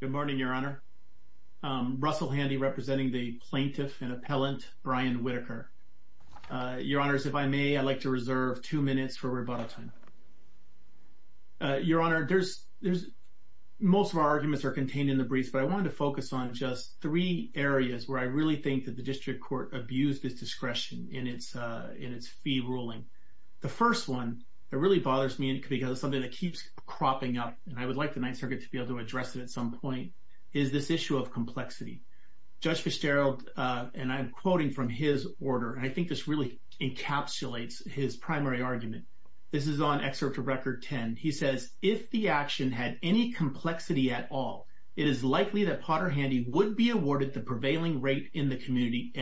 Good morning, Your Honor. Russell Handy representing the Plaintiff and Appellant Brian Whitaker. Your Honors, if I may, I'd like to reserve two minutes for rebuttal time. Your Honor, most of our arguments are contained in the briefs, but I wanted to focus on just three areas where I really think that the District Court abused its discretion in its fee ruling. The first one, it really bothers me because it's something that keeps cropping up, and I would like the Ninth Circuit to be able to address it at some point, is this issue of complexity. Judge Fitzgerald, and I'm quoting from his order, and I think this really encapsulates his primary argument. This is on Excerpt of Record 10. He says, If the action had any complexity at all, it is likely that Potter Handy would be awarded the prevailing rate in the community.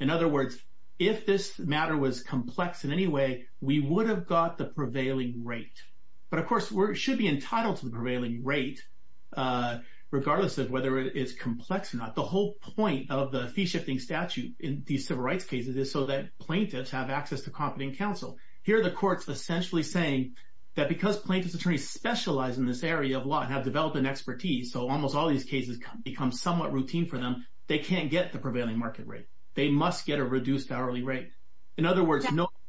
In other words, if this matter was complex in any way, we would have got the prevailing rate. But of course, we should be entitled to the prevailing rate, regardless of whether it is complex or not. The whole point of the fee-shifting statute in these civil rights cases is so that plaintiffs have access to competent counsel. Here, the Court's essentially saying that because plaintiff's attorneys specialize in this area of law and have developed an expertise, so almost all these cases become somewhat routine for them, they can't get the prevailing market rate. They must get a reduced hourly rate. In other words,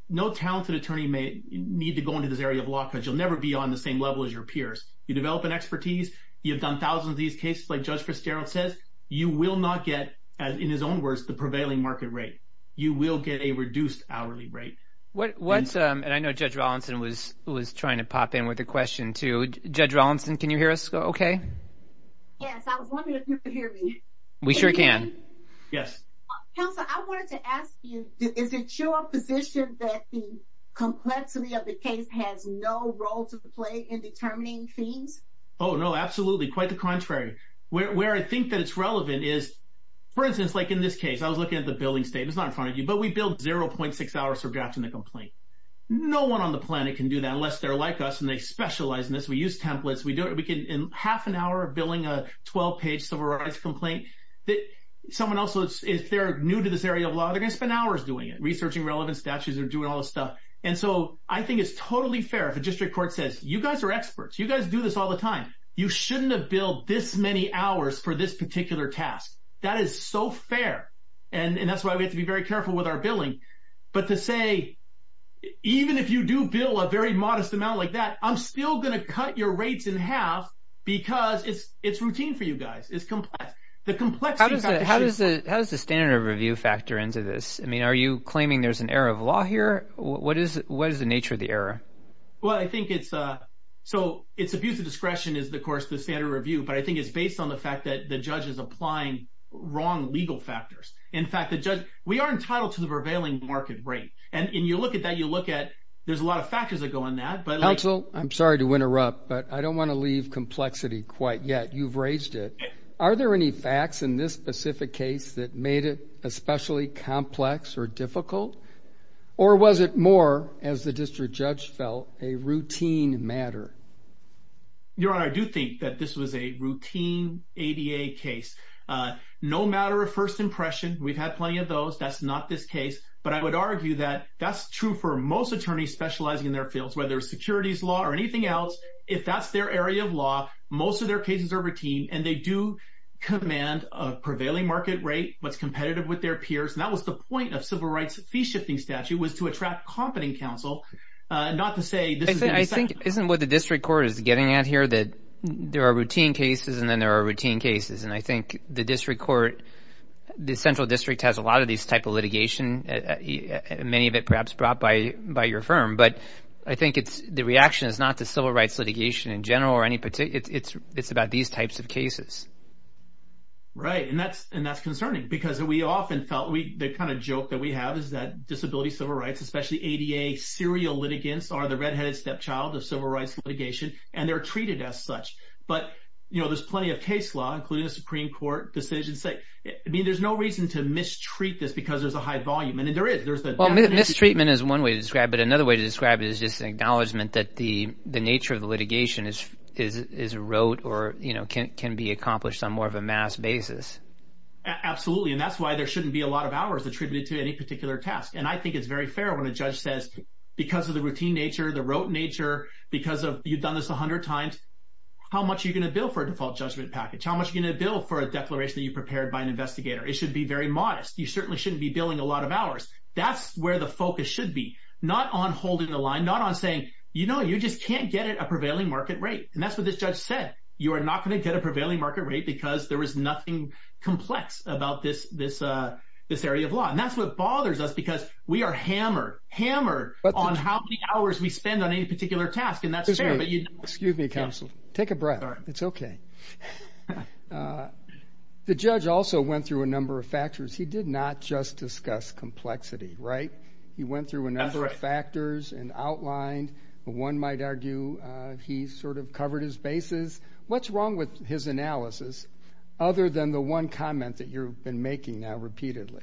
no talented attorney may need to go into this area of law because you'll never be on the same level as your peers. You develop an expertise, you've done thousands of these cases, like Judge Fitzgerald says, you will not get, in his own words, the prevailing market rate. You will get a reduced hourly rate. And I know Judge Rawlinson was trying to pop in with a question too. Judge Rawlinson, can you hear us okay? Yes, I was wondering if you could hear me. We sure can. Yes. Counselor, I wanted to ask you, is it your position that the complexity of the case has no role to play in determining fees? Oh, no, absolutely. Quite the contrary. Where I think that it's relevant is, for instance, like in this case, I was looking at the billing statement. It's not in front of you, but we bill 0.6 hours for drafting the complaint. No one on the planet can do that unless they're like us and they specialize in this. We use templates. We do it. We can, in half an hour of billing a 12-page civil rights complaint. Someone else, if they're new to this area of law, they're going to spend hours doing it, researching relevant statutes or doing all this stuff. And so I think it's totally fair if a district court says, you guys are experts. You guys do this all the time. You shouldn't have billed this many hours for this particular task. That is so fair. And that's why we have to be very careful with our billing. But to say, even if you do bill a very modest amount like that, I'm still going to cut your guys. It's complex. How does the standard of review factor into this? I mean, are you claiming there's an error of law here? What is the nature of the error? Well, I think it's abuse of discretion is, of course, the standard of review, but I think it's based on the fact that the judge is applying wrong legal factors. In fact, we are entitled to the prevailing market rate. And you look at that, you look at, there's a lot of factors that go in that. I'm sorry to interrupt, but I don't want to leave complexity quite yet. You've raised it. Are there any facts in this specific case that made it especially complex or difficult? Or was it more, as the district judge felt, a routine matter? Your Honor, I do think that this was a routine ADA case. No matter of first impression, we've had plenty of those. That's not this case. But I would argue that that's true for most attorneys specializing in their fields, whether it's securities law or anything else. If that's their area of law, most of their cases are routine and they do command a prevailing market rate, what's competitive with their peers. And that was the point of civil rights fee-shifting statute, was to attract competent counsel, not to say this is an exception. I think isn't what the district court is getting at here, that there are routine cases and then there are routine cases. And I think the district court, the central district has a lot of these type of litigation, and many of it perhaps brought by your firm. But I think the reaction is not to civil rights litigation in general, it's about these types of cases. Right. And that's concerning because we often felt, the kind of joke that we have is that disability civil rights, especially ADA serial litigants, are the red-headed stepchild of civil rights litigation and they're treated as such. But there's plenty of case law, including a Supreme Court decision. I mean, there's no reason to mistreat this because there's a high volume. And there is, there's the definition. Mistreatment is one way to describe it. Another way to describe it is just an acknowledgement that the nature of the litigation is rote or can be accomplished on more of a mass basis. Absolutely. And that's why there shouldn't be a lot of hours attributed to any particular task. And I think it's very fair when a judge says, because of the routine nature, the rote nature, because you've done this a hundred times, how much are you going to bill for a default judgment package? How much are you going to bill for a declaration that by an investigator? It should be very modest. You certainly shouldn't be billing a lot of hours. That's where the focus should be, not on holding the line, not on saying, you know, you just can't get it a prevailing market rate. And that's what this judge said. You are not going to get a prevailing market rate because there was nothing complex about this area of law. And that's what bothers us because we are hammered, hammered on how many hours we spend on any particular task. And that's fair, but you- The judge also went through a number of factors. He did not just discuss complexity, right? He went through a number of factors and outlined, one might argue, he sort of covered his bases. What's wrong with his analysis other than the one comment that you've been making now repeatedly?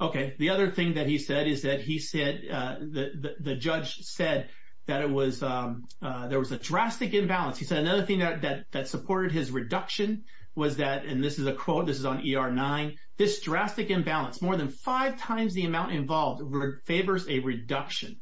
Okay. The other thing that he said is that he said, the judge said that it was, there was a drastic imbalance. He said another thing that supported his reduction was that, and this is a quote, this is on ER 9, this drastic imbalance, more than five times the amount involved favors a reduction,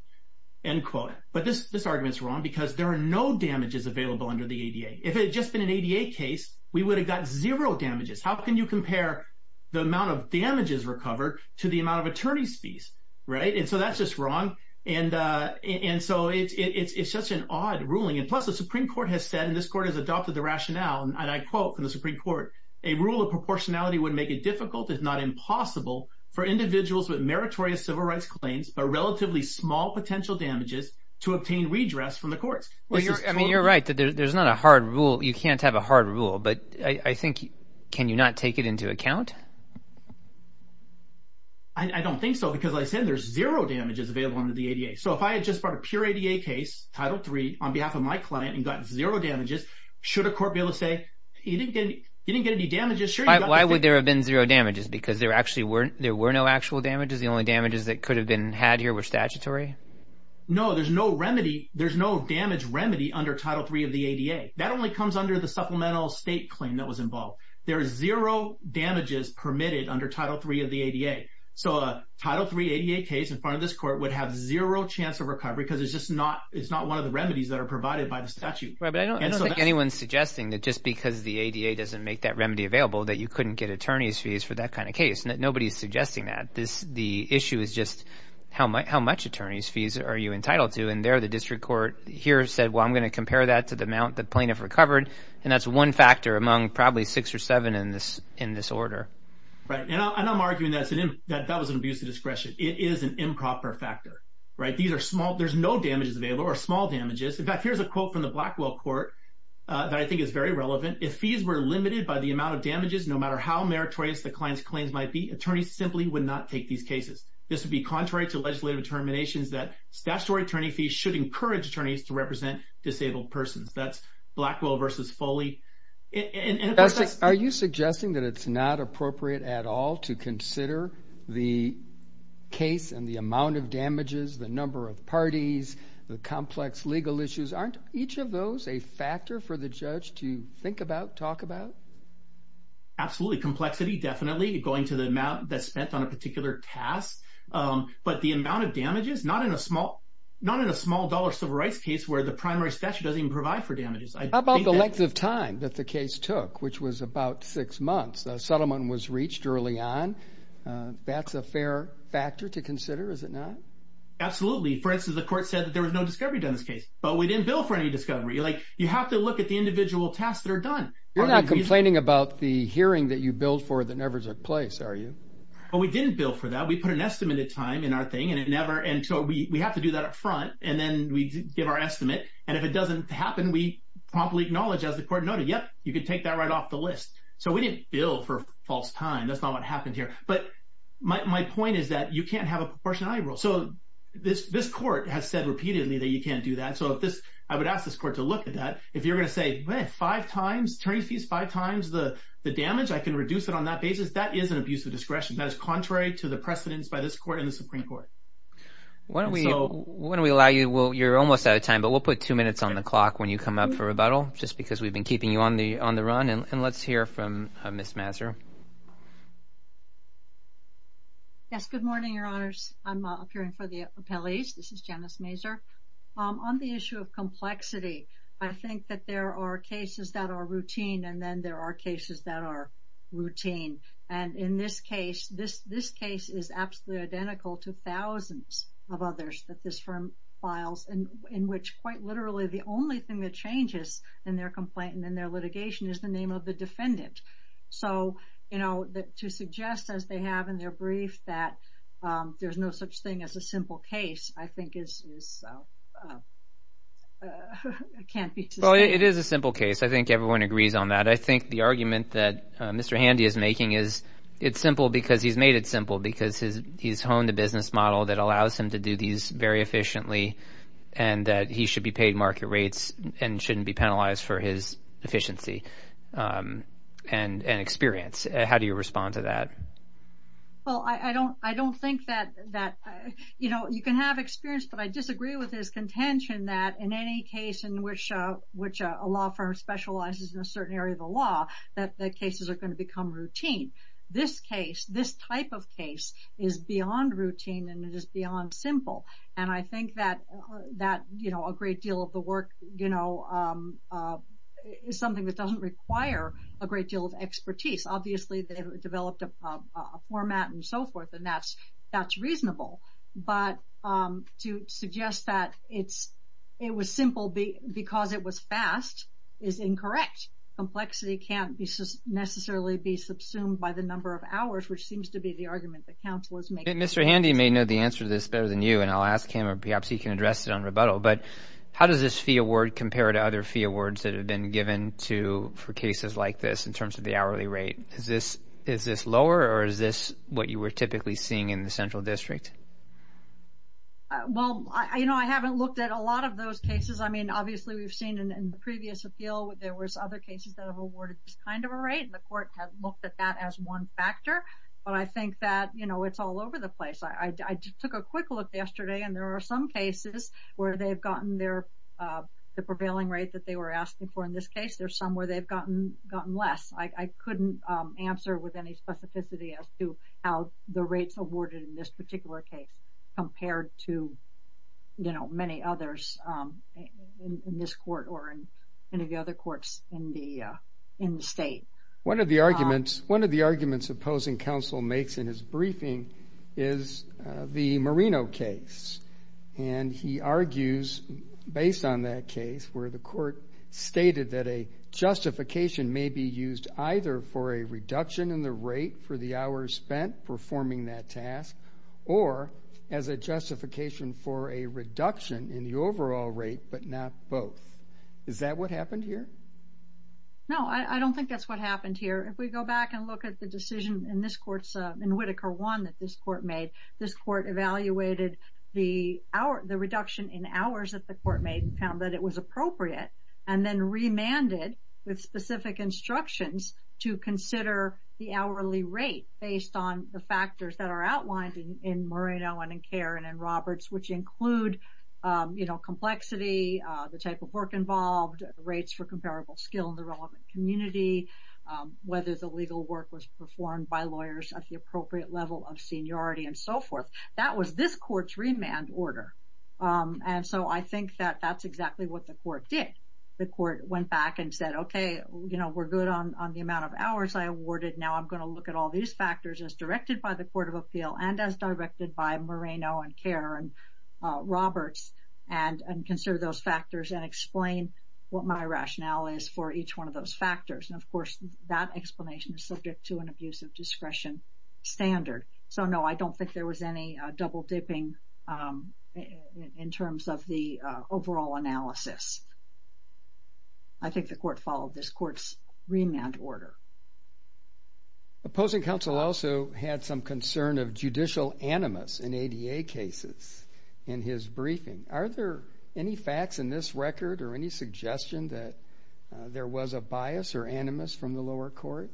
end quote. But this argument is wrong because there are no damages available under the ADA. If it had just been an ADA case, we would have got zero damages. How can you compare the amount of damages recovered to the amount of attorney's fees, right? And so that's just wrong. And so it's such an odd ruling. And plus the Supreme Court has said, and I quote from the Supreme Court, a rule of proportionality would make it difficult, if not impossible, for individuals with meritorious civil rights claims, but relatively small potential damages to obtain redress from the courts. Well, you're right that there's not a hard rule. You can't have a hard rule, but I think, can you not take it into account? I don't think so because I said there's zero damages available under the ADA. So if I had just brought a pure ADA case, Title III, on behalf of my client and got zero damages, should a court be able to say, you didn't get any damages? Why would there have been zero damages? Because there actually weren't, there were no actual damages? The only damages that could have been had here were statutory? No, there's no remedy. There's no damage remedy under Title III of the ADA. That only comes under the supplemental state claim that was involved. There is zero damages permitted under Title III of the ADA. So a Title III ADA case in front of this court would have zero chance of recovery because it's just not, it's not one of the remedies that are provided by the statute. Right, but I don't think anyone's suggesting that just because the ADA doesn't make that remedy available that you couldn't get attorney's fees for that kind of case. Nobody's suggesting that. The issue is just how much attorney's fees are you entitled to? And there, the district court here said, well, I'm going to compare that to the amount that plaintiff recovered. And that's one factor among probably six or seven in this order. Right. And I'm arguing that that was an abuse of discretion. It is an improper factor, right? These are small, there's no damages available or small damages. In fact, here's a quote from Blackwell Court that I think is very relevant. If fees were limited by the amount of damages, no matter how meritorious the client's claims might be, attorneys simply would not take these cases. This would be contrary to legislative determinations that statutory attorney fees should encourage attorneys to represent disabled persons. That's Blackwell versus Foley. Are you suggesting that it's not appropriate at all to consider the case and the amount of damages? Is any of those a factor for the judge to think about, talk about? Absolutely. Complexity, definitely going to the amount that's spent on a particular task. But the amount of damages, not in a small, not in a small dollar civil rights case where the primary statute doesn't even provide for damages. How about the length of time that the case took, which was about six months? A settlement was reached early on. That's a fair factor to consider, is it not? Absolutely. For instance, the court said that there was no discovery in this case, but we didn't bill for any discovery. You have to look at the individual tasks that are done. You're not complaining about the hearing that you billed for that never took place, are you? We didn't bill for that. We put an estimate of time in our thing, and so we have to do that up front, and then we give our estimate. And if it doesn't happen, we promptly acknowledge as the court noted, yep, you can take that right off the list. So we didn't bill for false time. That's not what happened here. But my point is that you can't have proportionality rules. So this court has said repeatedly that you can't do that. So if this, I would ask this court to look at that. If you're going to say, well, five times, attorney's fees, five times the damage, I can reduce it on that basis. That is an abuse of discretion. That is contrary to the precedents by this court and the Supreme Court. Why don't we, why don't we allow you, well, you're almost out of time, but we'll put two minutes on the clock when you come up for rebuttal, just because we've been keeping you on the run. And let's hear from Ms. Mazur. Yes. Good morning, Your Honors. I'm appearing for the appellees. This is Janice Mazur. On the issue of complexity, I think that there are cases that are routine, and then there are cases that are routine. And in this case, this case is absolutely identical to thousands of others that this firm files, in which quite literally the only thing that changes in their complaint and in their litigation is the name of the defendant. So I think it's important to suggest, as they have in their brief, that there's no such thing as a simple case, I think, can't be sustained. Well, it is a simple case. I think everyone agrees on that. I think the argument that Mr. Handy is making is it's simple because he's made it simple, because he's honed a business model that allows him to do these very efficiently, and that he should be paid and shouldn't be penalized for his efficiency and experience. How do you respond to that? Well, I don't think that... You can have experience, but I disagree with his contention that in any case in which a law firm specializes in a certain area of the law, that the cases are going to become routine. This case, this type of case, is beyond routine, and it is beyond simple. And I think that a great deal of the work is something that doesn't require a great deal of expertise. Obviously, they've developed a format and so forth, and that's reasonable. But to suggest that it was simple because it was fast is incorrect. Complexity can't necessarily be subsumed by the number of hours, which seems to be the argument that counsel is making. Mr. Handy may know the answer to this better than you, and I'll ask him, or perhaps he can address it on rebuttal. But how does this fee award compare to other fee awards that have been given for cases like this in terms of the hourly rate? Is this lower, or is this what you were typically seeing in the central district? Well, I haven't looked at a lot of those cases. I mean, obviously, we've seen in the previous appeal, there was other cases that have awarded this kind of a rate, and the court has looked at that as one factor. But I think that it's all over, I took a quick look yesterday, and there are some cases where they've gotten the prevailing rate that they were asking for in this case. There's some where they've gotten less. I couldn't answer with any specificity as to how the rates awarded in this particular case compared to many others in this court or in any of the other courts in the state. One of the arguments opposing counsel makes in his briefing is the Marino case, and he argues based on that case where the court stated that a justification may be used either for a reduction in the rate for the hours spent performing that task, or as a justification for a reduction in the overall rate, but not both. Is that what happened here? No, I don't think that's what happened here. If we go back and look at the decision in Whittaker 1 that this court made, this court evaluated the reduction in hours that the court made, found that it was appropriate, and then remanded with specific instructions to consider the hourly rate based on the factors that are outlined in Marino and in Kerr and in Roberts, which include, you know, complexity, the type of work involved, rates for performed by lawyers at the appropriate level of seniority, and so forth. That was this court's remand order, and so I think that that's exactly what the court did. The court went back and said, okay, you know, we're good on the amount of hours I awarded. Now I'm going to look at all these factors as directed by the Court of Appeal and as directed by Marino and Kerr and Roberts and consider those factors and explain what my rationale is for each one of those factors, and of course that explanation is subject to an abuse of discretion standard. So no, I don't think there was any double dipping in terms of the overall analysis. I think the court followed this court's remand order. Opposing counsel also had some concern of judicial animus in ADA cases in his briefing. Are there any facts in this record or any suggestion that there was a bias or animus from the lower court?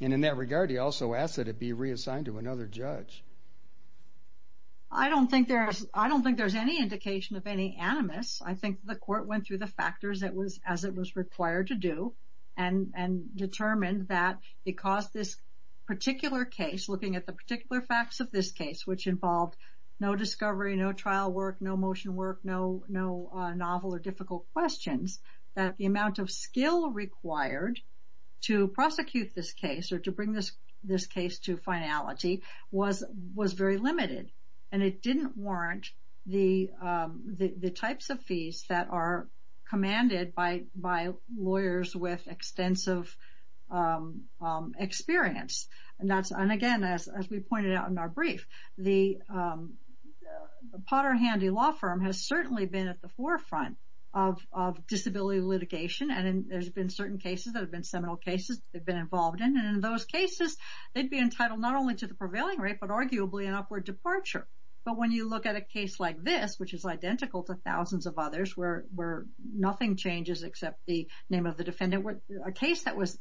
And in that regard, he also asked that it be reassigned to another judge. I don't think there's any indication of any animus. I think the court went through the factors as it was required to do and determined that because this particular case, looking at the particular facts of this case, which involved no discovery, no trial work, no motion work, no novel or difficult questions, that the amount of skill required to prosecute this case or to bring this case to finality was very limited and it didn't warrant the types of fees that are commanded by lawyers with extensive experience. And again, as we pointed out in our brief, the Potter Handy Law Firm has certainly been at the forefront of disability litigation and there's been certain cases that have been seminal cases they've been involved in. And in those cases, they'd be entitled not only to the prevailing rate, but arguably an upward departure. But when you look at a case like this, which is identical to thousands of others where nothing changes except the name of the defendant, a case that was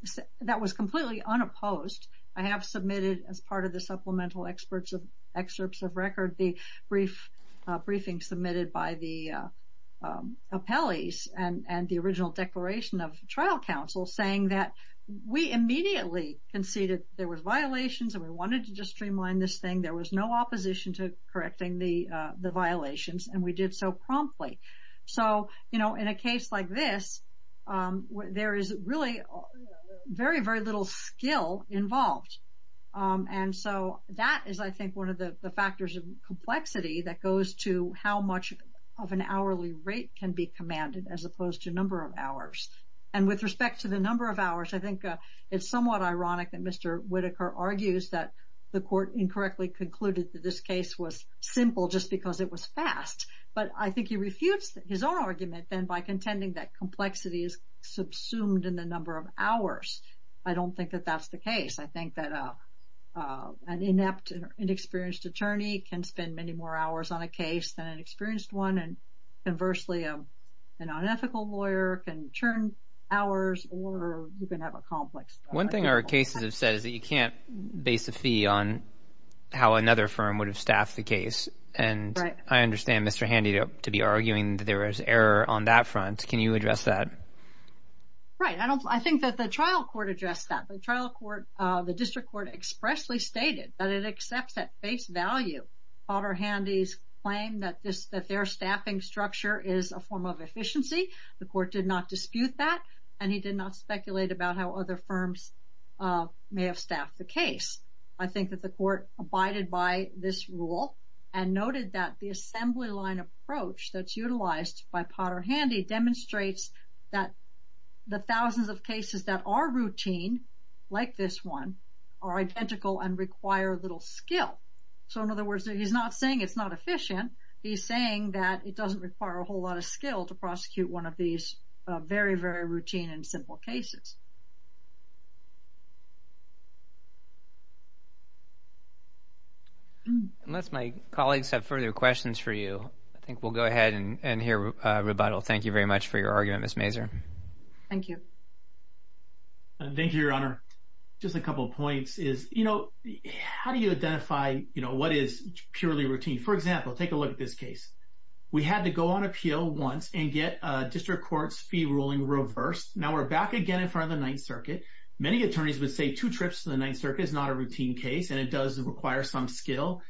completely unopposed, I have submitted as part of the supplemental excerpts of record the briefings submitted by the appellees and the original declaration of trial counsel saying that we immediately conceded there was violations and we wanted to just streamline this thing. There was no opposition to correcting the violations and we did so promptly. So, you know, in a case like this, there is really very, very little skill involved. And so that is, I think, one of the factors of complexity that goes to how much of an hourly rate can be commanded as opposed to number of hours. And with respect to the number of hours, I think it's somewhat ironic that Mr. Whitaker argues that the court incorrectly concluded that this case was simple just because it was fast. But I think he refutes his own argument then by contending that complexity is subsumed in the number of hours. I don't think that that's the case. I think that an inept, inexperienced attorney can spend many more hours on a case than an experienced one. And conversely, an unethical lawyer can churn hours or you can have a complex. One thing our cases have said is that you can't base a fee on how another firm would have staffed the case. And I understand Mr. Handy to be arguing that there is error on that front. Can you address that? Right. I think that the trial court addressed that. The district court expressly stated that it accepts at face value Potter Handy's claim that their staffing structure is a form of efficiency. The court did not dispute that and he did not speculate about how other firms may have staffed the case. I think that the court abided by this rule and noted that the assembly line approach that's utilized by Potter Handy demonstrates that the thousands of cases that are routine like this one are identical and require a little skill. So in other words, he's not saying it's not efficient. He's saying that it doesn't require a whole lot of skill to prosecute one of these very, very routine and unless my colleagues have further questions for you, I think we'll go ahead and hear a rebuttal. Thank you very much for your argument, Ms. Mazur. Thank you. Thank you, Your Honor. Just a couple of points is, you know, how do you identify, you know, what is purely routine? For example, take a look at this case. We had to go on appeal once and get a district court's fee ruling reversed. Now we're back again in front of the Ninth Circuit. Many attorneys would say two trips to the Ninth Circuit is not a routine case, and it does require some skill.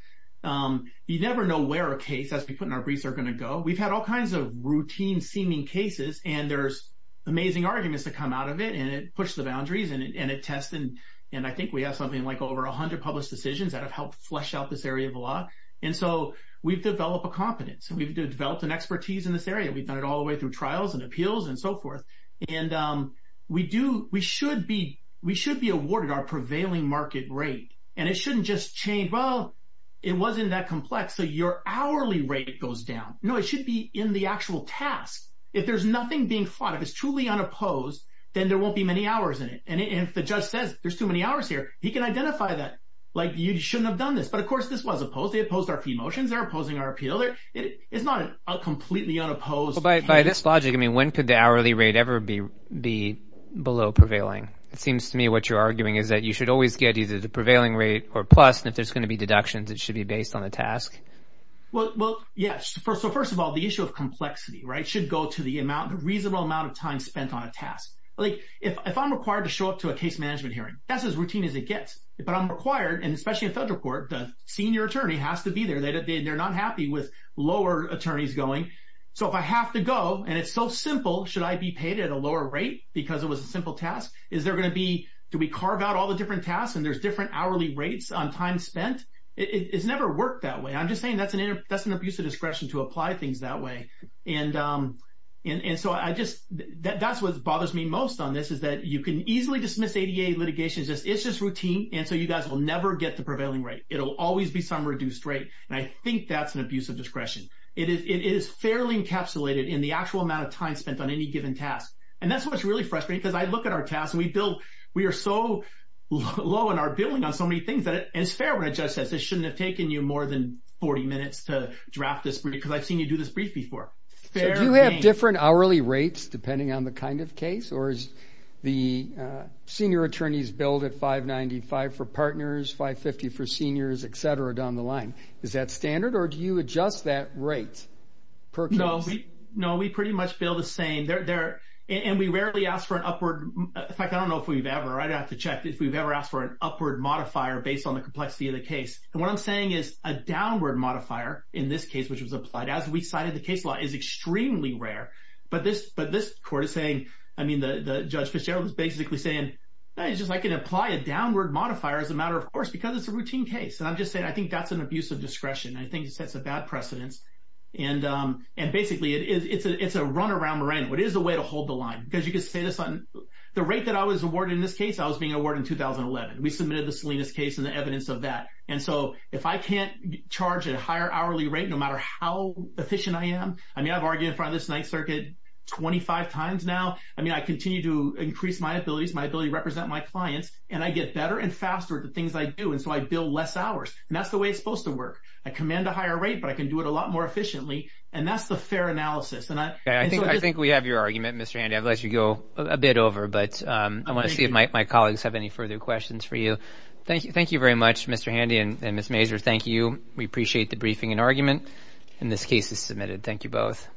You never know where a case, as we put in our briefs, are going to go. We've had all kinds of routine-seeming cases, and there's amazing arguments that come out of it, and it pushes the boundaries, and it tests. And I think we have something like over 100 published decisions that have helped flesh out this area of law. And so we've developed a competence, and we've developed an expertise in this area. We've done it all the way through trials and appeals and so forth. And we should be awarded our prevailing market rate. And it shouldn't just change, well, it wasn't that complex, so your hourly rate goes down. No, it should be in the actual task. If there's nothing being fought, if it's truly unopposed, then there won't be many hours in it. And if the judge says, there's too many hours here, he can identify that, like, you shouldn't have done this. But of course, this was opposed. They opposed our fee motions. They're opposing our appeal. It's not a completely unopposed case. Well, by this logic, I mean, when could hourly rate ever be below prevailing? It seems to me what you're arguing is that you should always get either the prevailing rate or plus, and if there's going to be deductions, it should be based on the task. Well, yes. So first of all, the issue of complexity, right, should go to the amount, the reasonable amount of time spent on a task. Like, if I'm required to show up to a case management hearing, that's as routine as it gets. But I'm required, and especially in federal court, the senior attorney has to be there. They're not happy with lower attorneys going. So if I have to go, and it's so simple, should I be paid at a lower rate because it was a simple task? Is there going to be, do we carve out all the different tasks and there's different hourly rates on time spent? It's never worked that way. I'm just saying that's an abuse of discretion to apply things that way. And so I just, that's what bothers me most on this is that you can easily dismiss ADA litigation. It's just routine, and so you guys will never get the prevailing rate. It'll always be some reduced rate, and I think that's an abuse of discretion. It is fairly encapsulated in the actual amount of time spent on any given task. And that's what's really frustrating because I look at our tasks and we build, we are so low in our billing on so many things that it's fair when a judge says, this shouldn't have taken you more than 40 minutes to draft this because I've seen you do this brief before. So do you have different hourly rates depending on the kind of case or is the senior attorneys billed at 595 for partners, 550 for partners? No, we pretty much bill the same. And we rarely ask for an upward, in fact, I don't know if we've ever, I'd have to check if we've ever asked for an upward modifier based on the complexity of the case. And what I'm saying is a downward modifier in this case, which was applied as we cited the case law is extremely rare. But this court is saying, I mean, the Judge Fitzgerald is basically saying, it's just like an apply a downward modifier as a matter of course, because it's a routine case. And I'm just saying, I think that's an abuse of discretion. I think that's a bad precedence. And basically it's a run around Miranda. It is a way to hold the line because you can say this on the rate that I was awarded in this case, I was being awarded in 2011. We submitted the Salinas case and the evidence of that. And so if I can't charge a higher hourly rate, no matter how efficient I am, I mean, I've argued in front of this Ninth Circuit 25 times now. I mean, I continue to increase my abilities, my ability to represent my clients, and I get better and faster at the things I do. And so I bill less hours and that's the way it's I can do it a lot more efficiently and that's the fair analysis. And I think we have your argument, Mr. Handy. I've let you go a bit over, but I want to see if my colleagues have any further questions for you. Thank you. Thank you very much, Mr. Handy and Ms. Mazur. Thank you. We appreciate the briefing and argument and this case is submitted. Thank you both.